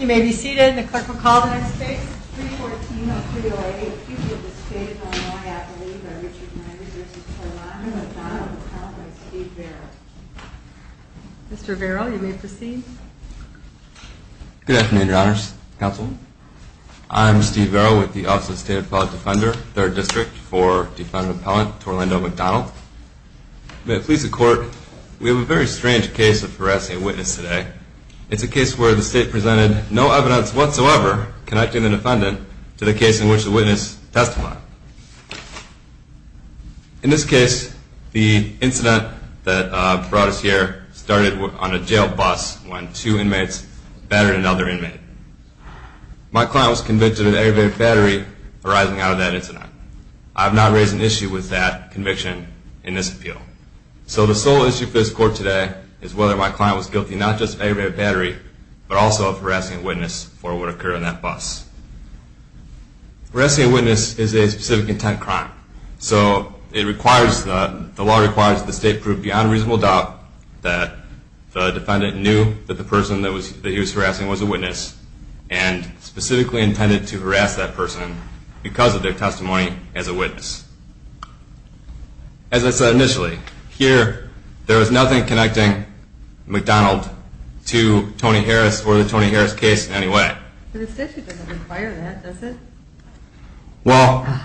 You may be seated. The clerk will call the next case. It's 314 of 308-Q of the State of Illinois, I believe, by Richard Myers v. Torlando McDonald, appellant by Steve Varro. Mr. Varro, you may proceed. Good afternoon, Your Honors. Counsel? I'm Steve Varro with the Office of the State Appellate Defender, 3rd District, for defendant appellant Torlando McDonald. May it please the Court, we have a very strange case of harassing a witness today. It's a case where the State presented no evidence whatsoever connecting the defendant to the case in which the witness testified. In this case, the incident that brought us here started on a jail bus when two inmates battered another inmate. My client was convicted of aggravated battery arising out of that incident. I have not raised an issue with that conviction in this appeal. So the sole issue for this Court today is whether my client was guilty not just of aggravated battery, but also of harassing a witness for what occurred on that bus. Harassing a witness is a specific intent crime. So the law requires that the State prove beyond reasonable doubt that the defendant knew that the person that he was harassing was a witness and specifically intended to harass that person because of their testimony as a witness. As I said initially, here there is nothing connecting McDonald to Tony Harris or the Tony Harris case in any way. The statute doesn't require that, does it? Well,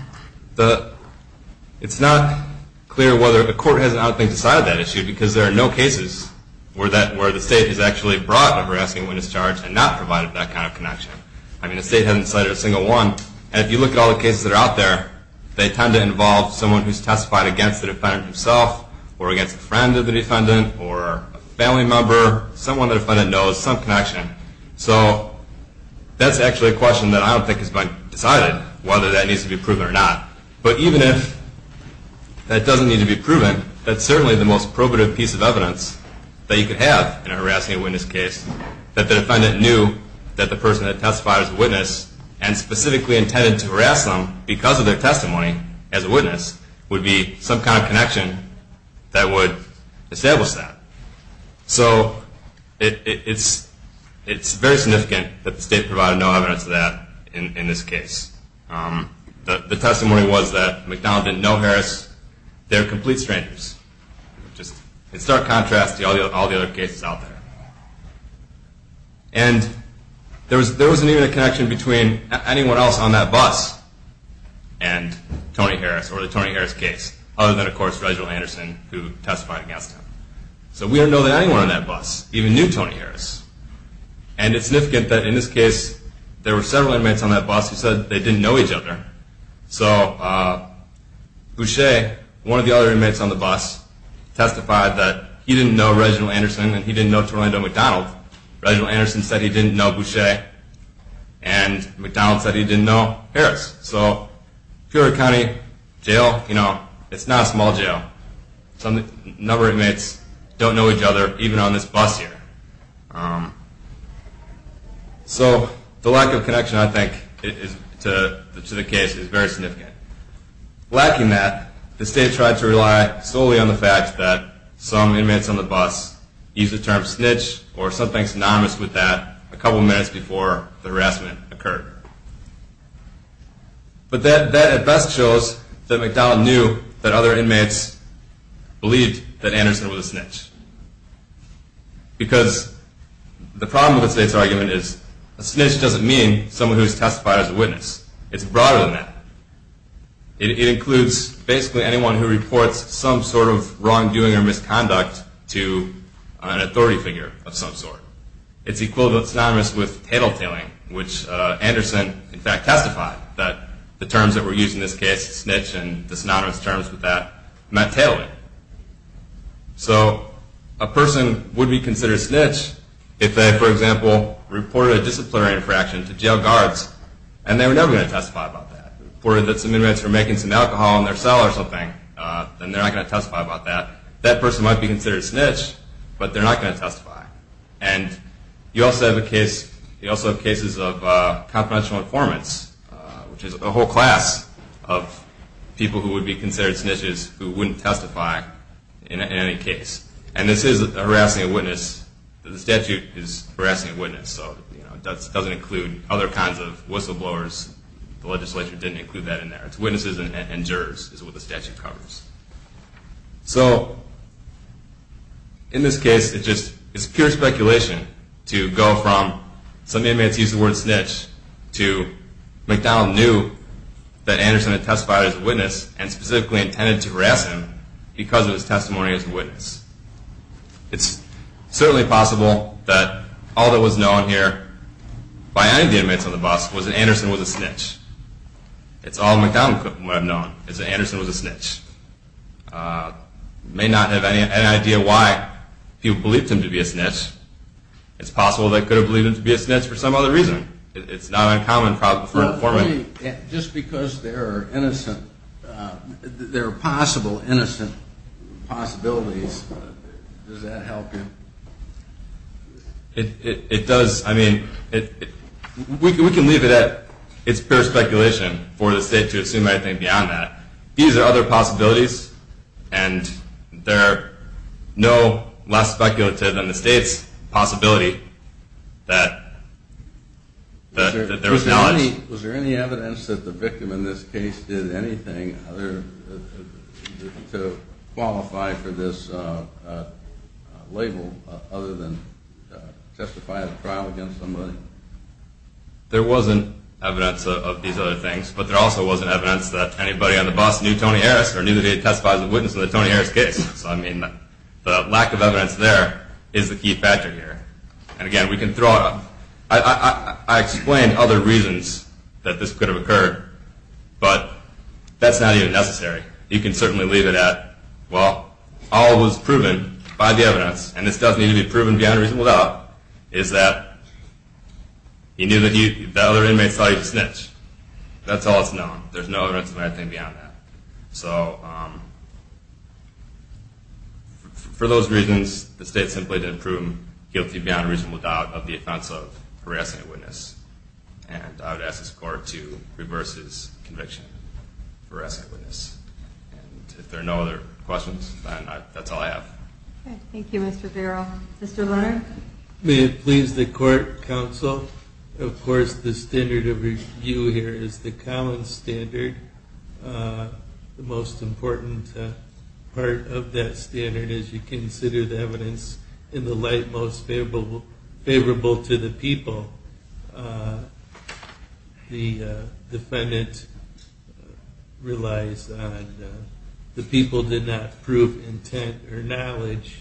it's not clear whether the Court has decided that issue because there are no cases where the State has actually brought a harassing witness charge and not provided that kind of connection. I mean, the State hasn't cited a single one. And if you look at all the cases that are out there, they tend to involve someone who's testified against the defendant himself or against a friend of the defendant or a family member, someone the defendant knows, some connection. So that's actually a question that I don't think has been decided, whether that needs to be proven or not. But even if that doesn't need to be proven, that's certainly the most probative piece of evidence that you could have in a harassing witness case that the defendant knew that the person that testified was a witness and specifically intended to harass them because of their testimony as a witness would be some kind of connection that would establish that. So it's very significant that the State provided no evidence of that in this case. The testimony was that McDonald didn't know Harris. They're complete strangers. Just in stark contrast to all the other cases out there. And there wasn't even a connection between anyone else on that bus and Tony Harris or the Tony Harris case, other than, of course, Reginald Anderson, who testified against him. So we don't know that anyone on that bus even knew Tony Harris. And it's significant that in this case there were several inmates on that bus who said they didn't know each other. So Boucher, one of the other inmates on the bus, testified that he didn't know Reginald Anderson and he didn't know Torlando McDonald. Reginald Anderson said he didn't know Boucher and McDonald said he didn't know Harris. So Peoria County Jail, you know, it's not a small jail. A number of inmates don't know each other, even on this bus here. So the lack of connection, I think, to the case is very significant. Lacking that, the State tried to rely solely on the fact that some inmates on the bus used the term snitch or something synonymous with that a couple minutes before the harassment occurred. But that at best shows that McDonald knew that other inmates believed that Anderson was a snitch. Because the problem with the State's argument is a snitch doesn't mean someone who's testified as a witness. It's broader than that. It includes basically anyone who reports some sort of wrongdoing or misconduct to an authority figure of some sort. It's synonymous with tattletaling, which Anderson, in fact, testified that the terms that were used in this case, snitch and the synonymous terms with that, meant tattling. So a person would be considered snitch if they, for example, reported a disciplinary infraction to jail guards and they were never going to testify about that. If they reported that some inmates were making some alcohol in their cell or something, then they're not going to testify about that. That person might be considered snitch, but they're not going to testify. And you also have cases of confidential informants, which is a whole class of people who would be considered snitches who wouldn't testify in any case. And this is harassing a witness. The statute is harassing a witness, so it doesn't include other kinds of whistleblowers. The legislature didn't include that in there. It's witnesses and jurors is what the statute covers. So in this case, it's just pure speculation to go from some inmates used the word snitch to McDonald knew that Anderson had testified as a witness and specifically intended to harass him because of his testimony as a witness. It's certainly possible that all that was known here by any of the inmates on the bus was that Anderson was a snitch. It's all McDonald could have known is that Anderson was a snitch. You may not have any idea why people believed him to be a snitch. It's possible they could have believed him to be a snitch for some other reason. It's not uncommon for an informant... Just because there are possible innocent possibilities, does that help you? We can leave it at it's pure speculation for the state to assume anything beyond that. These are other possibilities, and there are no less speculative than the state's possibility that there was knowledge. Was there any evidence that the victim in this case did anything to qualify for this label other than testify at trial against somebody? There wasn't evidence of these other things, but there also wasn't evidence that anybody on the bus knew Tony Harris or knew that he had testified as a witness in the Tony Harris case. So I mean, the lack of evidence there is the key factor here. And again, we can throw out... I explained other reasons that this could have occurred, but that's not even necessary. You can certainly leave it at, well, all was proven by the evidence, and this does need to be proven beyond a reasonable doubt, is that you knew that other inmates thought you were a snitch. That's all that's known. There's no evidence of anything beyond that. So for those reasons, the state simply didn't prove him guilty beyond a reasonable doubt of the offense of harassing a witness. And I would ask this Court to reverse his conviction for harassing a witness. And if there are no other questions, then that's all I have. Thank you, Mr. Farrell. Mr. Lerner? May it please the Court, Counsel, of course the standard of review here is the common standard. The most important part of that standard is you consider the evidence in the light most favorable to the people. The defendant relies on the people did not prove intent or knowledge.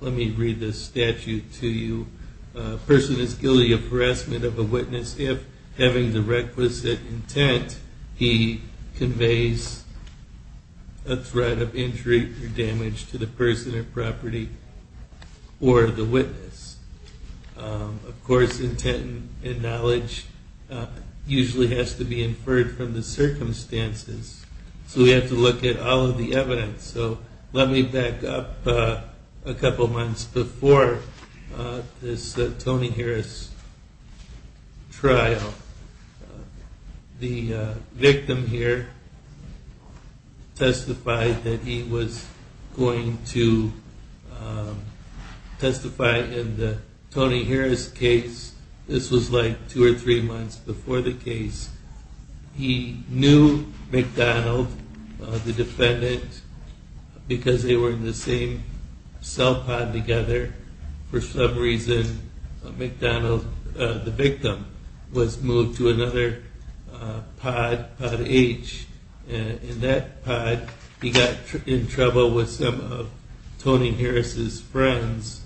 Let me read this statute to you. A person is guilty of harassment of a witness if, having the requisite intent, he conveys a threat of injury or damage to the person or property or the witness. Of course, intent and knowledge usually has to be inferred from the circumstances. So we have to look at all of the evidence. So let me back up a couple months before this Tony Harris trial. The victim here testified that he was going to testify in the Tony Harris case. This was like two or three months before the case. He knew McDonald, the defendant, because they were in the same cell pod together. For some reason, McDonald, the victim, was moved to another pod, pod H. In that pod, he got in trouble with some of Tony Harris's friends.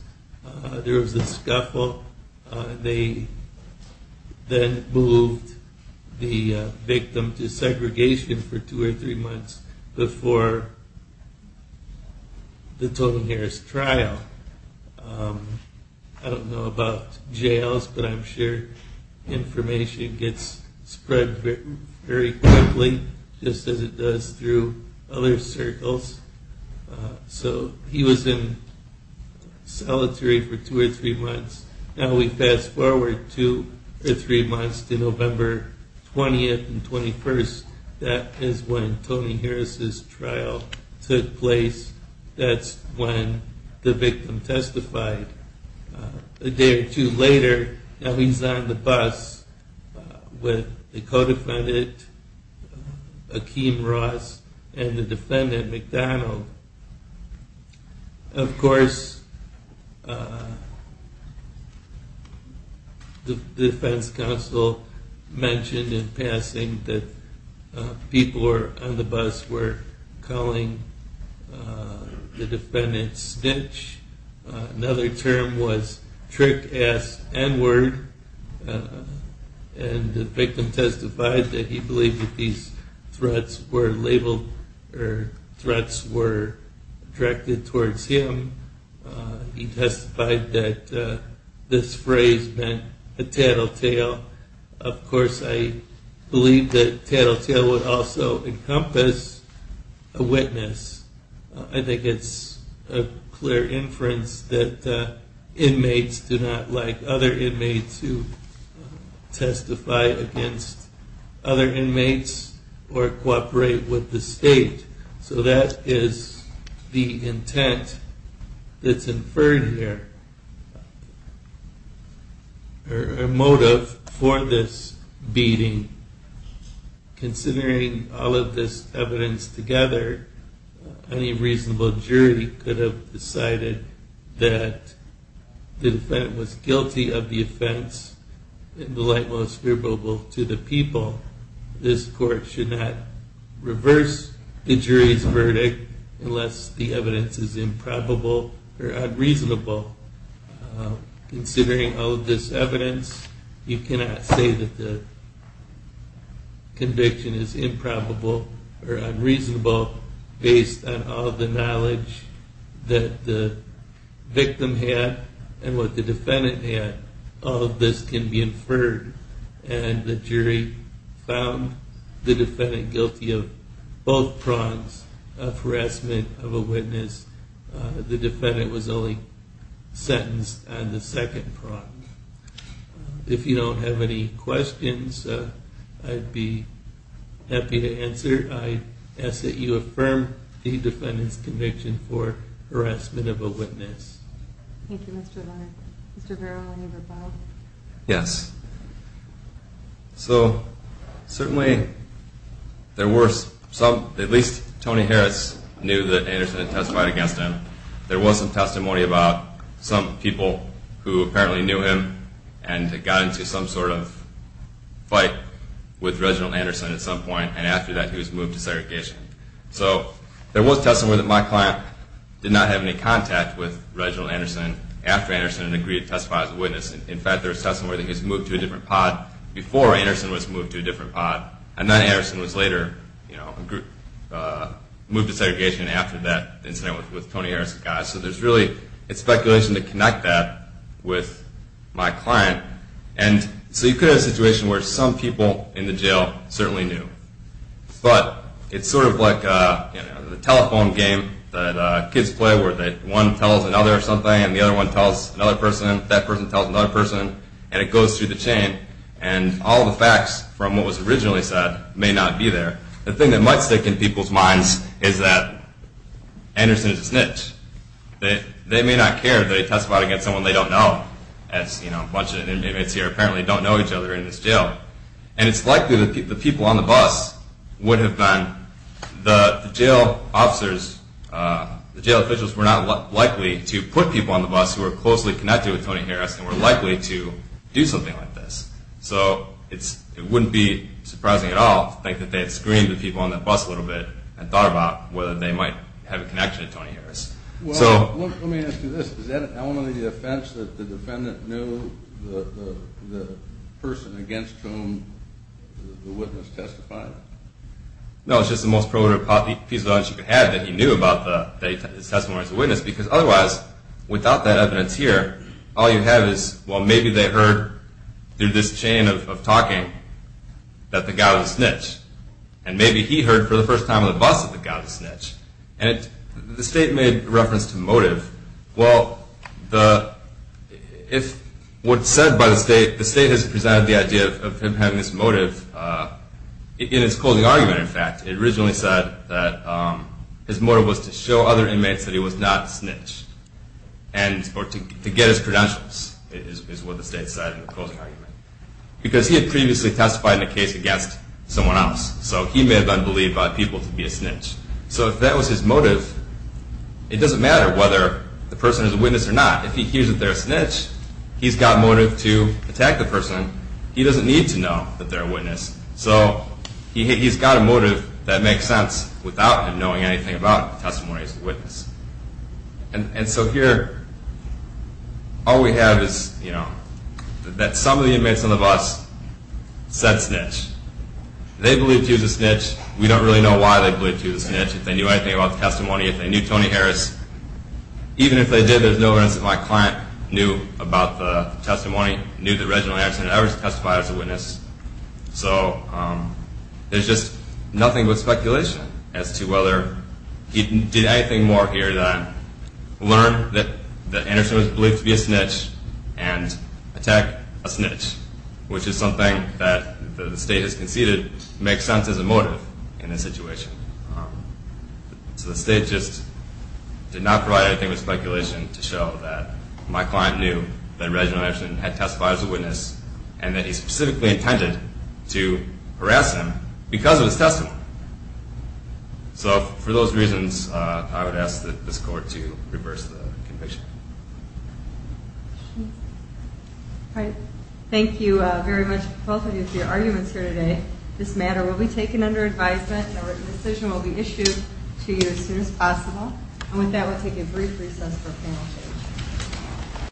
There was a scuffle. They then moved the victim to segregation for two or three months before the Tony Harris trial. I don't know about jails, but I'm sure information gets spread very quickly, just as it does through other circles. So he was in solitary for two or three months. Now we fast forward two or three months to November 20th and 21st. That is when Tony Harris's trial took place. That's when the victim testified. A day or two later, now he's on the bus with the co-defendant, Akeem Ross, and the defendant, McDonald. Of course, the defense counsel mentioned in passing that people on the bus were calling the defendant snitch. Another term was trick-ass n-word. The victim testified that he believed that these threats were directed towards him. He testified that this phrase meant a tattletale. Of course, I believe that tattletale would also encompass a witness. I think it's a clear inference that inmates do not like other inmates who testify against other inmates or cooperate with the state. So that is the intent that's inferred here, or motive for this beating. Considering all of this evidence together, any reasonable jury could have decided that the defendant was guilty of the offense in the light most favorable to the people. This court should not reverse the jury's verdict unless the evidence is improbable or unreasonable. Considering all of this evidence, you cannot say that the conviction is improbable or unreasonable based on all of the knowledge that the victim had and what the defendant had. All of this can be inferred, and the jury found the defendant guilty of both prongs of harassment of a witness. The defendant was only sentenced on the second prong. If you don't have any questions, I'd be happy to answer. I ask that you affirm the defendant's conviction for harassment of a witness. Thank you, Mr. Leonard. Mr. Vero, any rebuttal? Yes. So certainly there were some, at least Tony Harris knew that Anderson had testified against him. There was some testimony about some people who apparently knew him and got into some sort of fight with Reginald Anderson at some point, and after that he was moved to segregation. So there was testimony that my client did not have any contact with Reginald Anderson after Anderson had agreed to testify as a witness. In fact, there was testimony that he was moved to a different pod before Anderson was moved to a different pod, and then Anderson was later moved to segregation after that incident with Tony Harris. So there's really speculation to connect that with my client. So you could have a situation where some people in the jail certainly knew. But it's sort of like the telephone game that kids play where one tells another something and the other one tells another person, that person tells another person, and it goes through the chain. And all the facts from what was originally said may not be there. The thing that might stick in people's minds is that Anderson is a snitch. They may not care that he testified against someone they don't know, as a bunch of inmates here apparently don't know each other in this jail. And it's likely that the people on the bus would have been, the jail officers, the jail officials were not likely to put people on the bus who were closely connected with Tony Harris and were likely to do something like this. So it wouldn't be surprising at all to think that they had screened the people on the bus a little bit and thought about whether they might have a connection to Tony Harris. Well, let me ask you this. Is that only the offense that the defendant knew the person against whom the witness testified? No, it's just the most probable piece of evidence you could have that he knew about the testimony of the witness. Because otherwise, without that evidence here, all you have is, well, maybe they heard through this chain of talking that the guy was a snitch. And maybe he heard for the first time on the bus that the guy was a snitch. And the state made reference to motive. Well, if what's said by the state, the state has presented the idea of him having this motive in his closing argument, in fact. It originally said that his motive was to show other inmates that he was not a snitch, or to get his credentials, is what the state said in the closing argument. Because he had previously testified in a case against someone else, so he may have been believed by people to be a snitch. So if that was his motive, it doesn't matter whether the person is a witness or not. If he hears that they're a snitch, he's got motive to attack the person. He doesn't need to know that they're a witness. So he's got a motive that makes sense without him knowing anything about the testimony of the witness. And so here, all we have is, you know, that some of the inmates on the bus said snitch. They believed he was a snitch. We don't really know why they believed he was a snitch, if they knew anything about the testimony, if they knew Tony Harris. Even if they did, there's no evidence that my client knew about the testimony, knew that Reginald Anderson had ever testified as a witness. So there's just nothing but speculation as to whether he did anything more here than learn that Anderson was believed to be a snitch and attack a snitch. Which is something that the State has conceded makes sense as a motive in this situation. So the State just did not provide anything but speculation to show that my client knew that Reginald Anderson had testified as a witness and that he specifically intended to harass him because of his testimony. So for those reasons, I would ask that this Court to reverse the conviction. All right. Thank you very much, both of you, for your arguments here today. This matter will be taken under advisement and a decision will be issued to you as soon as possible. And with that, we'll take a brief recess for panel discussion.